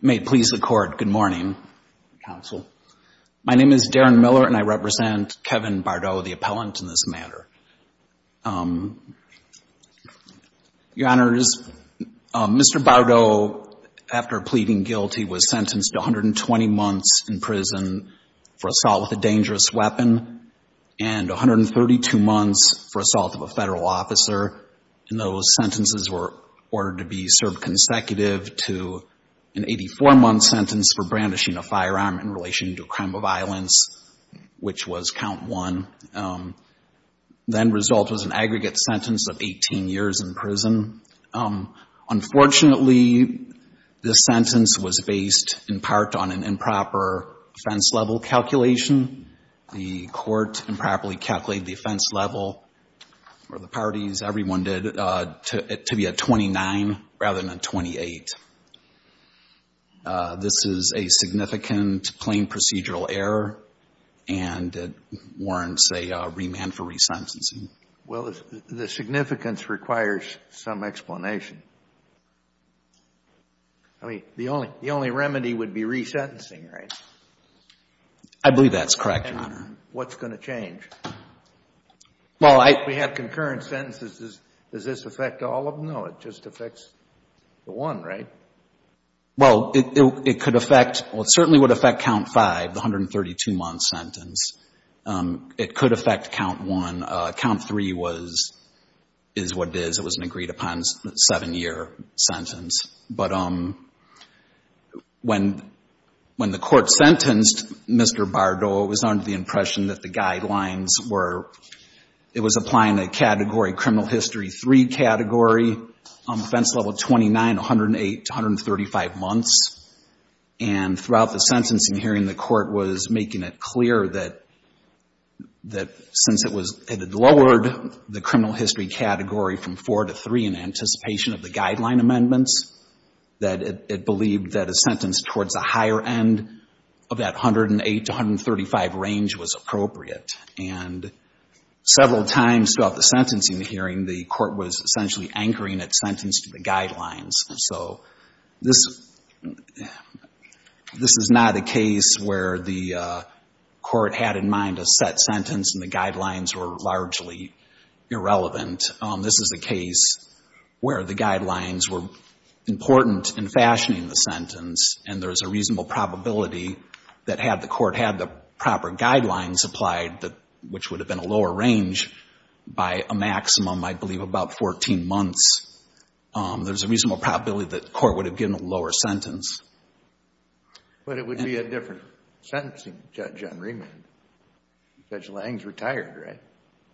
May it please the court. Good morning, counsel. My name is Darren Miller, and I represent Kevin Bordeaux, the appellant in this matter. Your Honors, Mr. Bordeaux, after pleading guilty was sentenced to 120 months in prison for assault with a dangerous weapon and 132 months for assault of a federal officer. And those sentences were ordered to be served consecutive to an 84-month sentence for brandishing a firearm in relation to a crime of violence, which was count one. Then result was an aggregate sentence of 18 years in prison. Unfortunately, this sentence was based in part on an improper offense level calculation. The court improperly calculated the offense level, or the parties, everyone did, to be a 29 rather than a 28. This is a significant plain procedural error, and it warrants a remand for resentencing. Well, the significance requires some explanation. I mean, the only remedy would be resentencing, right? I believe that's correct, Your Honor. And what's going to change? Well, I We have concurrent sentences. Does this affect all of them? No, it just affects the one, right? Well, it could affect, well, it certainly would affect count five, the 132-month sentence. It could affect count one. Count three was, is what it is. It was an agreed upon seven-year sentence. But when the court sentenced Mr. Bardot, it was under the impression that the guidelines were, it was applying a category, criminal history three category, offense level 29, 108 to 135 months. And throughout the sentencing hearing, the court was making it clear that since it had lowered the criminal history category from four to three in anticipation of the guideline amendments, that it believed that a sentence towards the higher end of that 108 to 135 range was appropriate. And several times throughout the sentencing hearing, the court was essentially anchoring its sentence to the guidelines. So this, this is not a case where the court had in mind a set sentence and the guidelines were largely irrelevant. This is a case where the guidelines were important in fashioning the sentence, and there's a reasonable probability that had the court had the proper guidelines applied, which would have been a lower range, by a maximum, I believe, about 14 months, there's a reasonable probability that the court would have given a lower sentence. But it would be a different sentencing judge on remand. Judge Lange's retired, right?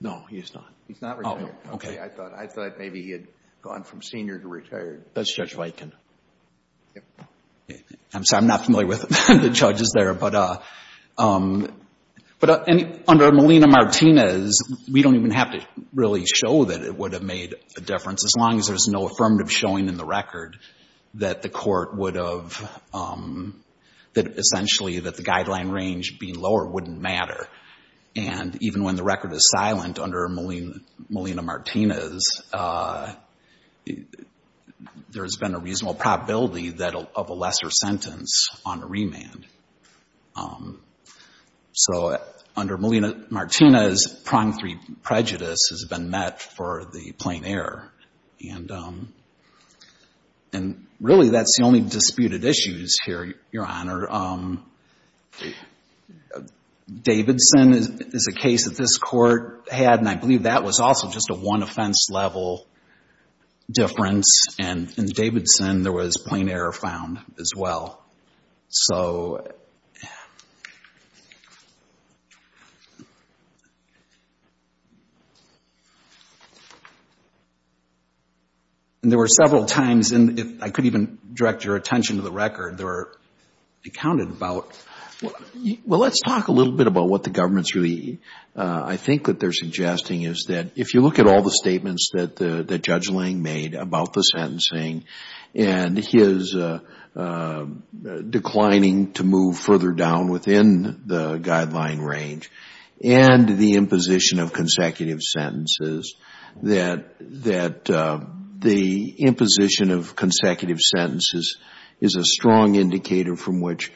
No, he's not. He's not retired. Oh, okay. I thought maybe he had gone from senior to retired. That's Judge Viken. I'm sorry, I'm not familiar with the judges there. But under Melina Martinez, we don't even have to really show that it would have made a difference, as long as there's no affirmative showing in the record that the court would have, that essentially that the guideline range being lower wouldn't matter. And even when the record is silent under Melina Martinez, there's been a reasonable probability of a lesser sentence on a remand. So under Melina Martinez, pronged prejudice has been met for the plain error. And really, that's the only disputed issues here, Your Honor. Davidson is a case that this court had, and I believe that was also just a one offense level difference. And in Davidson, there was plain error found as well. And there were several times, and if I could even direct your attention to the record, there were, it counted about. Well, let's talk a little bit about what the government's really, I think that they're suggesting is that if you look at all the statements that Judge Lange made about the and his declining to move further down within the guideline range, and the imposition of consecutive sentences, that the imposition of consecutive sentences is a strong indicator from which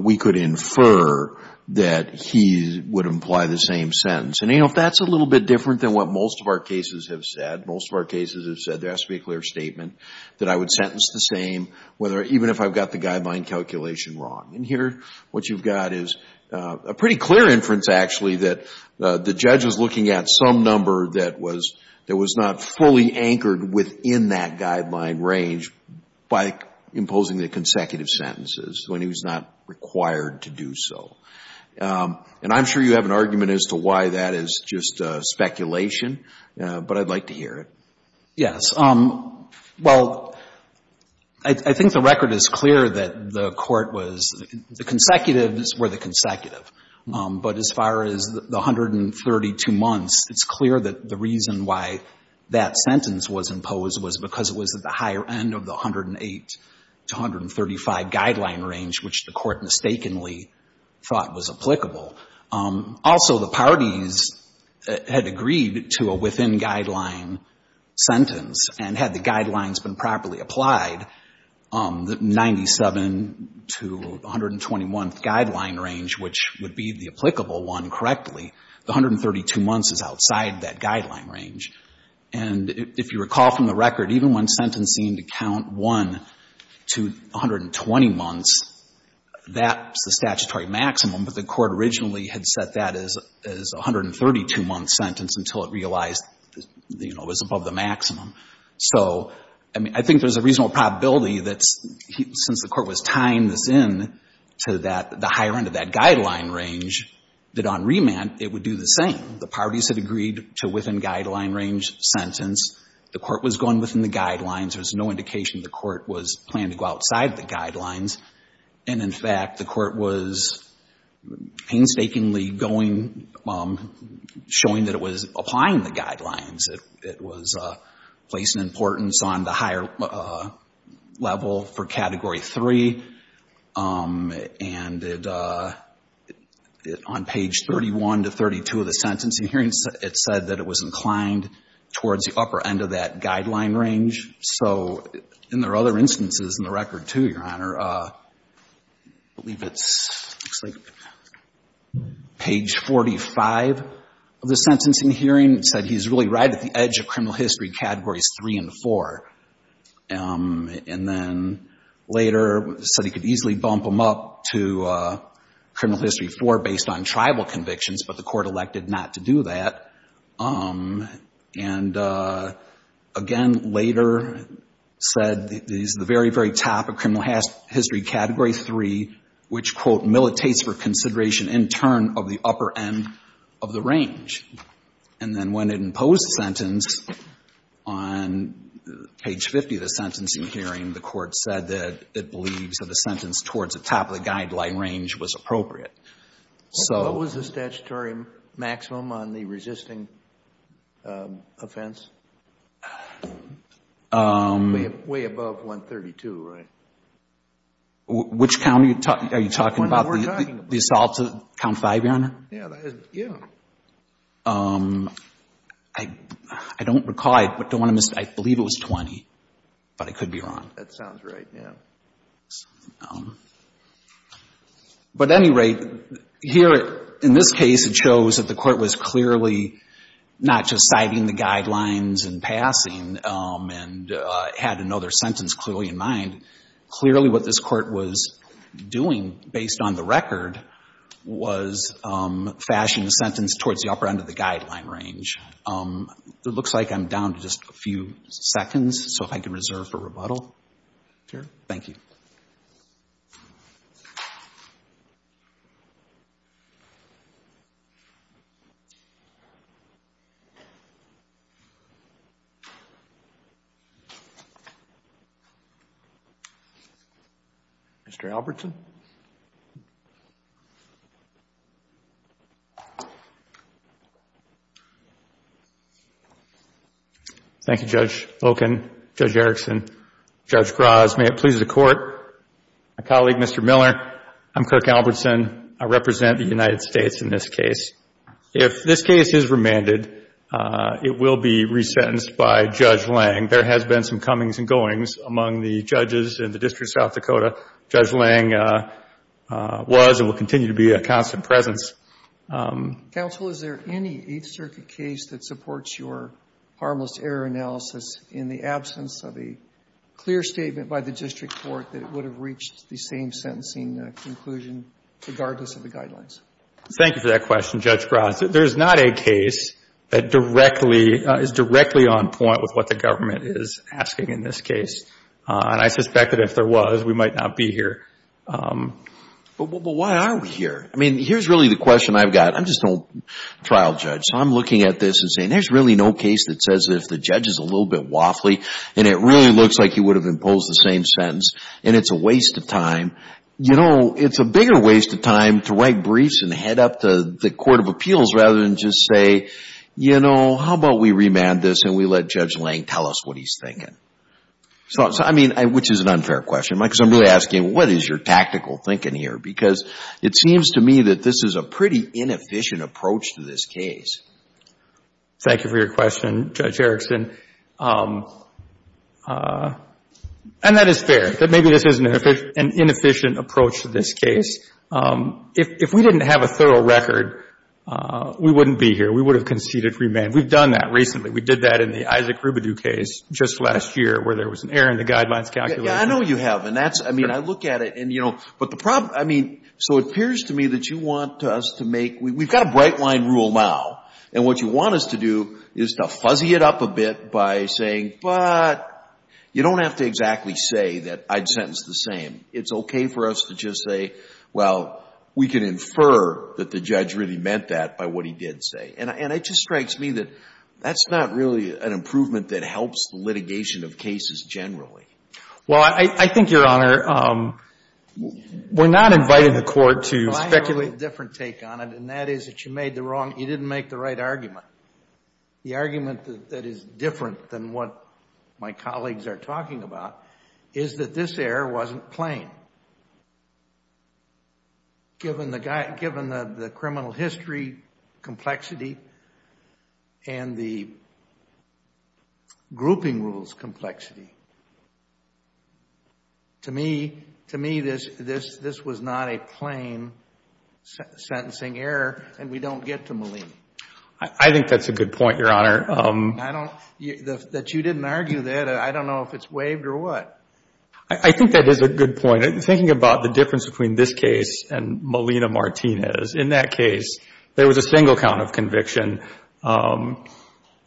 we could infer that he would imply the same sentence. And, you know, if that's a little bit different than what most of our cases have said, most of our cases have said there has to be a clear statement that I would sentence the same, even if I've got the guideline calculation wrong. And here, what you've got is a pretty clear inference actually that the judge is looking at some number that was not fully anchored within that guideline range by imposing the consecutive sentences when he was not required to do so. And I'm sure you have an argument as to why that is just speculation, but I'd like to hear it. Yes. Well, I think the record is clear that the Court was, the consecutives were the consecutive. But as far as the 132 months, it's clear that the reason why that sentence was imposed was because it was at the higher end of the 108 to 135 guideline range, which the Court And had the guidelines been properly applied, the 97 to 121th guideline range, which would be the applicable one correctly, the 132 months is outside that guideline range. And if you recall from the record, even when sentencing to count 1 to 120 months, that's the statutory maximum, but the Court originally had set that as a 132-month sentence until it realized, you know, it was above the maximum. So I mean, I think there's a reasonable probability that since the Court was tying this in to that, the higher end of that guideline range, that on remand it would do the same. The parties had agreed to within guideline range sentence. The Court was going within the guidelines. There was no indication the Court was planning to go outside the guidelines. And in fact, the Court was painstakingly going, showing that it was applying the guidelines. It was placing importance on the higher level for Category 3. And it, on page 31 to 32 of the sentencing hearing, it said that it was inclined towards the upper end of that guideline range. So in their other instances in the record, too, Your Honor, I believe it's, looks like, page 45 of the sentencing hearing said he's really right at the edge of criminal history Categories 3 and 4. And then later said he could easily bump them up to criminal history 4 based on tribal convictions, but the Court elected not to do that. And again, later said that he's at the very, very top of criminal history Category 3, which, quote, militates for consideration in turn of the upper end of the range. And then when it imposed the sentence on page 50 of the sentencing hearing, the Court said that it believes that a sentence towards the top of the guideline range was appropriate. So what was the statutory maximum on the resisting offense? Way above 132, right? Which count are you talking about? The assault to count 5, Your Honor? Yeah. I don't recall it, but I believe it was 20, but I could be wrong. That sounds right, yeah. But at any rate, here, in this case, it shows that the Court was clearly not just citing the guidelines and passing and had another sentence clearly in mind. Clearly what this Court was doing, based on the record, was fashioning the sentence towards the upper end of the guideline range. It looks like I'm down to just a few seconds, so if I can reserve for rebuttal here. Thank you. Mr. Albertson? Thank you, Judge Loken, Judge Erickson, Judge Graz. May it please the Court, my colleague, Mr. Miller, I'm Kirk Albertson. I represent the United States in this case. If this case is remanded, it will be resentenced by Judge Lange. There has been some comings and goings among the judges in the District of South Dakota. Judge Lange was and will continue to be a constant presence. Counsel, is there any Eighth Circuit case that supports your harmless error analysis in the absence of a clear statement by the District Court that it would have reached the same sentencing conclusion, regardless of the guidelines? Thank you for that question, Judge Graz. There is not a case that directly, is directly on point with what the government is asking in this case. And I suspect that if there was, we might not be here. But why are we here? I mean, here's really the question I've got. I'm just a trial judge. So I'm looking at this and saying, there's really no case that says if the judge is a little bit waffly, and it really looks like he would have imposed the same sentence, and it's a waste of time. You know, it's a bigger waste of time to write briefs and head up to the Court of Appeals rather than just say, you know, how about we remand this and we let Judge Lange tell us what he's thinking? So, I mean, which is an unfair question. Because I'm really asking, what is your tactical thinking here? Because it seems to me that this is a pretty inefficient approach to this case. Thank you for your question, Judge Erickson. And that is fair, that maybe this is an inefficient approach to this case. If we didn't have a thorough record, we wouldn't be here. We would have conceded remand. We've done that recently. We did that in the Isaac Rubidoux case just last year where there was an error in the guidelines calculation. Yeah, I know you have. And that's, I mean, I look at it, and, you know, but the problem, I mean, so it appears to me that you want us to make, we've got a bright-line rule now. And what you want us to do is to fuzzy it up a bit by saying, but you don't have to exactly say that I'd sentence the same. It's okay for us to just say, well, we can infer that the judge really meant that by what he did say. And it just strikes me that that's not really an improvement that helps the litigation of cases generally. Well, I think, Your Honor, we're not inviting the Court to speculate. Well, I have a different take on it, and that is that you made the wrong, you didn't make the right argument. The argument that is different than what my colleagues are talking about is that this error wasn't plain, given the criminal history complexity and the grouping rules complexity. To me, this was not a plain sentencing error, and we don't get to Molina. I think that's a good point, Your Honor. I don't, that you didn't argue that, I don't know if it's waived or what. I think that is a good point. Thinking about the difference between this case and Molina-Martinez, in that case, there was a single count of conviction. And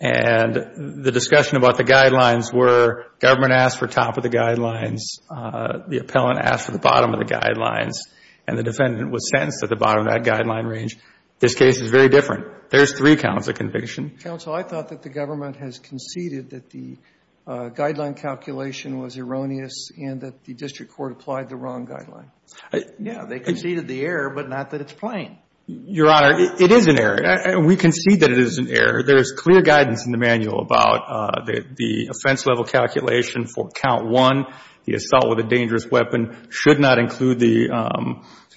the discussion about the guidelines were government asked for top of the guidelines, the appellant asked for the bottom of the guidelines, and the defendant was sentenced at the bottom of that guideline range. This case is very different. There's three counts of conviction. Counsel, I thought that the government has conceded that the guideline calculation was erroneous and that the district court applied the wrong guideline. Yeah. They conceded the error, but not that it's plain. Your Honor, it is an error. And we concede that it is an error. There is clear guidance in the manual about the offense level calculation for count one, the assault with a dangerous weapon, should not include the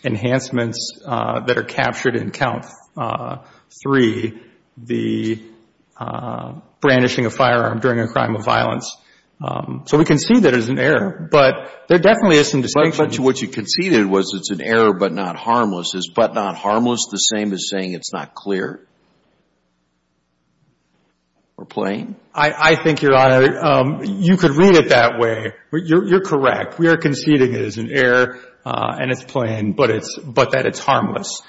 enhancements that are captured in count three, the brandishing a firearm during a crime of violence. So we concede that it is an error, but there definitely is some distinction. But what you conceded was it's an error but not harmless. Is but not harmless the same as saying it's not clear or plain? I think, Your Honor, you could read it that way. You're correct. We are conceding it is an error and it's plain, but that it's harmless.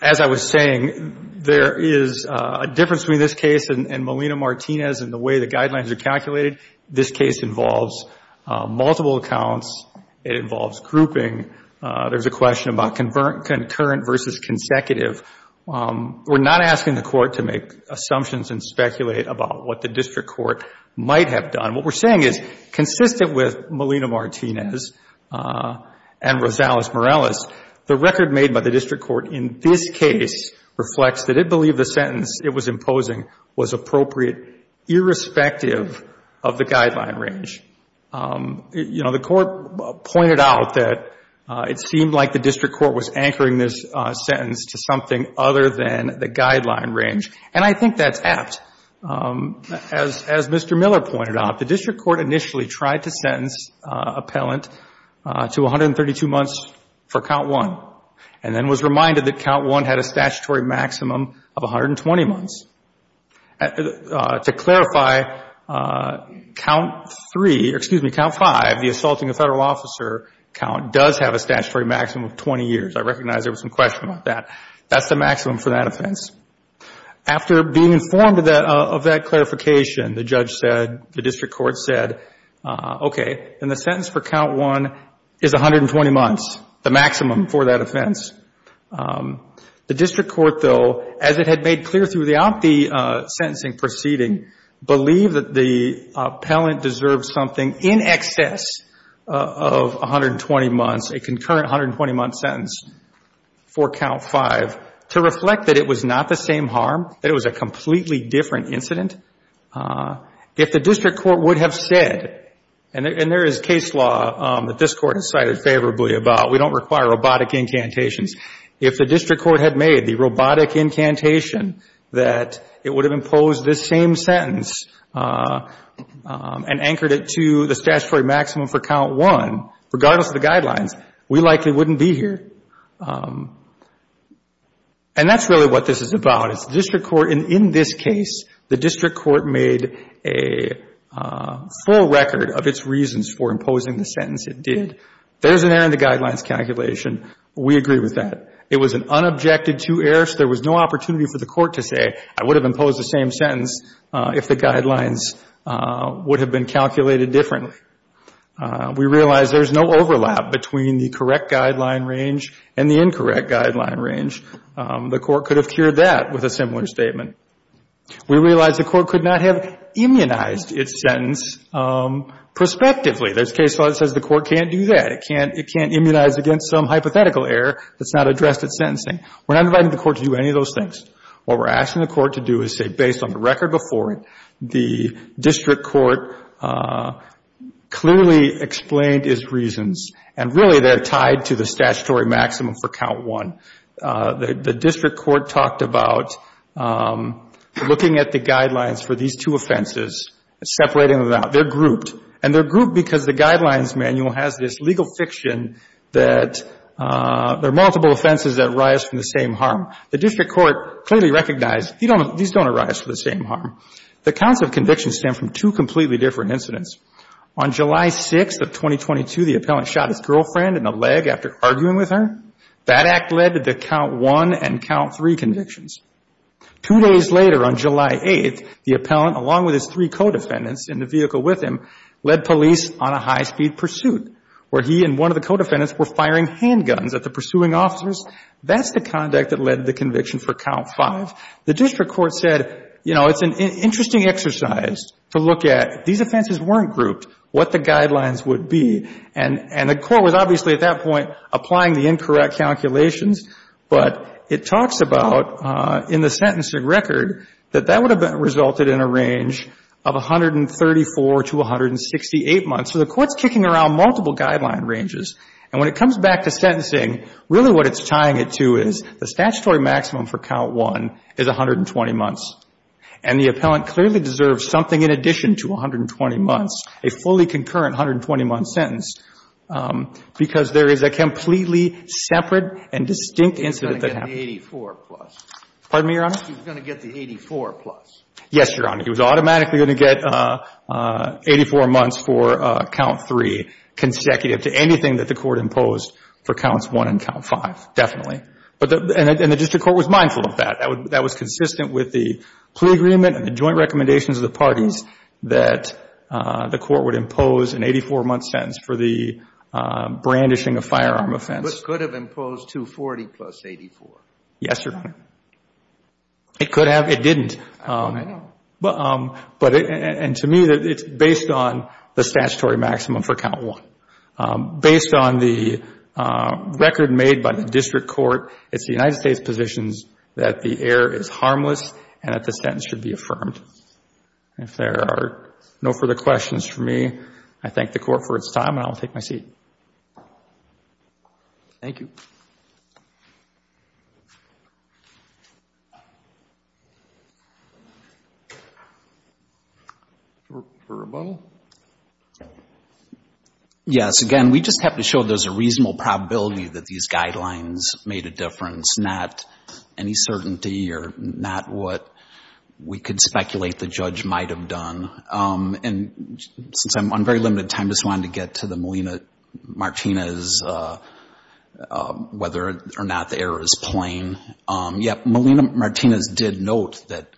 As I was saying, there is a difference between this case and Molina-Martinez and the way the guidelines are calculated. This case involves multiple accounts. It involves grouping. There's a question about concurrent versus consecutive. We're not asking the Court to make assumptions and speculate about what the district court might have done. What we're saying is consistent with Molina-Martinez and Rosales-Morales, the record made by the district court in this case reflects that it believed the sentence it was imposing was appropriate irrespective of the guideline range. You know, the Court pointed out that it seemed like the district court was anchoring this sentence to something other than the guideline range, and I think that's apt. As Mr. Miller pointed out, the district court initially tried to sentence appellant to 132 months for count one and then was reminded that count one had a statutory maximum of 120 months. To clarify, count three or, excuse me, count five, the assaulting a federal officer count does have a statutory maximum of 20 years. I recognize there was some question about that. That's the maximum for that offense. After being informed of that clarification, the judge said, the district court said, okay, then the sentence for count one is 120 months, the maximum for that offense. The district court, though, as it had made clear throughout the sentencing proceeding, believed that the appellant deserved something in excess of 120 months, a concurrent 120-month sentence for count five, to reflect that it was not the same harm, that it was a completely different incident. If the district court would have said, and there is case law that this court has cited very favorably about, we don't require robotic incantations. If the district court had made the robotic incantation that it would have imposed this same sentence and anchored it to the statutory maximum for count one, regardless of the guidelines, we likely wouldn't be here. And that's really what this is about. It's the district court, and in this case, the district court made a full record of its reasons for imposing the sentence it did. There's an error in the guidelines calculation. We agree with that. It was an unobjected to error, so there was no opportunity for the court to say, I would have imposed the same sentence if the guidelines would have been calculated differently. We realize there's no overlap between the correct guideline range and the incorrect guideline range. The court could have cured that with a similar statement. We realize the court could not have immunized its sentence prospectively. There's case law that says the court can't do that. It can't immunize against some hypothetical error that's not addressed at sentencing. We're not inviting the court to do any of those things. What we're asking the court to do is say, based on the record before it, the district court clearly explained its reasons, and really they're tied to the statutory maximum for count one. The district court talked about looking at the guidelines for these two offenses, separating them out. They're grouped, and they're grouped because the guidelines manual has this legal fiction that there are multiple offenses that arise from the same harm. The district court clearly recognized these don't arise from the same harm. The counts of conviction stem from two completely different incidents. On July 6th of 2022, the appellant shot his girlfriend in the leg after arguing with her. That act led to count one and count three convictions. Two days later, on July 8th, the appellant, along with his three co-defendants in the vehicle with him, led police on a high-speed pursuit where he and one of the co-defendants were firing handguns at the pursuing officers. That's the conduct that led to the conviction for count five. The district court said, you know, it's an interesting exercise to look at. These offenses weren't grouped. What the guidelines would be? And the court was obviously at that point applying the incorrect calculations, but it talks about in the sentencing record that that would have resulted in a range of 134 to 168 months. So the court's kicking around multiple guideline ranges. And when it comes back to sentencing, really what it's tying it to is the statutory maximum for count one is 120 months. And the appellant clearly deserves something in addition to 120 months, a fully concurrent 120-month sentence, because there is a completely separate and distinct incident that happened. He's going to get the 84 plus. Pardon me, Your Honor? He's going to get the 84 plus. Yes, Your Honor. He was automatically going to get 84 months for count three consecutive to anything that the court imposed for counts one and count five, definitely. And the district court was mindful of that. That was consistent with the plea agreement and the joint recommendations of the parties that the court would impose an 84-month sentence for the brandishing of firearm offense. But it could have imposed 240 plus 84. Yes, Your Honor. It could have. It didn't. I don't know. And to me, it's based on the statutory maximum for count one. Based on the record made by the district court, it's the United States' position that the error is harmless and that the sentence should be affirmed. If there are no further questions for me, I thank the court for its time, and I will take my seat. Thank you. Referrable? Yes. Again, we just have to show there's a reasonable probability that these guidelines made a difference, not any certainty or not what we could speculate the judge might have done. And since I'm on very limited time, I just wanted to get to the Molina-Martinez, whether or not the error is plain. Yep, Molina-Martinez did note that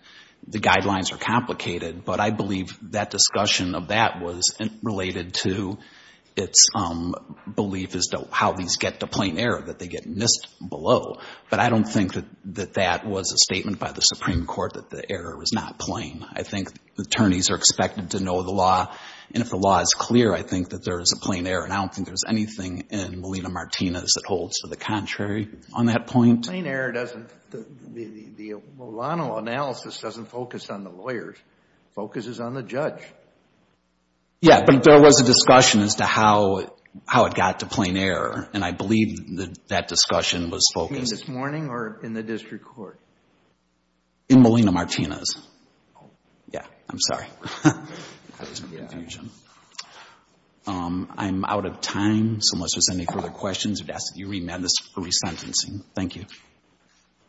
the guidelines are complicated, but I believe that discussion of that was related to its belief as to how these get to plain error, that they get missed below. But I don't think that that was a statement by the Supreme Court that the error was not plain. I think attorneys are expected to know the law, and if the law is clear, I think that there is a plain error, and I don't think there's anything in Molina-Martinez that holds to the contrary on that point. Plain error doesn't, the Milano analysis doesn't focus on the lawyers. It focuses on the judge. Yeah, but there was a discussion as to how it got to plain error, and I believe that discussion was focused. Between this morning or in the district court? In Molina-Martinez. Oh. Yeah, I'm sorry. That was a confusion. I'm out of time, so unless there's any further questions, I'd ask that you remand this for resentencing. Thank you.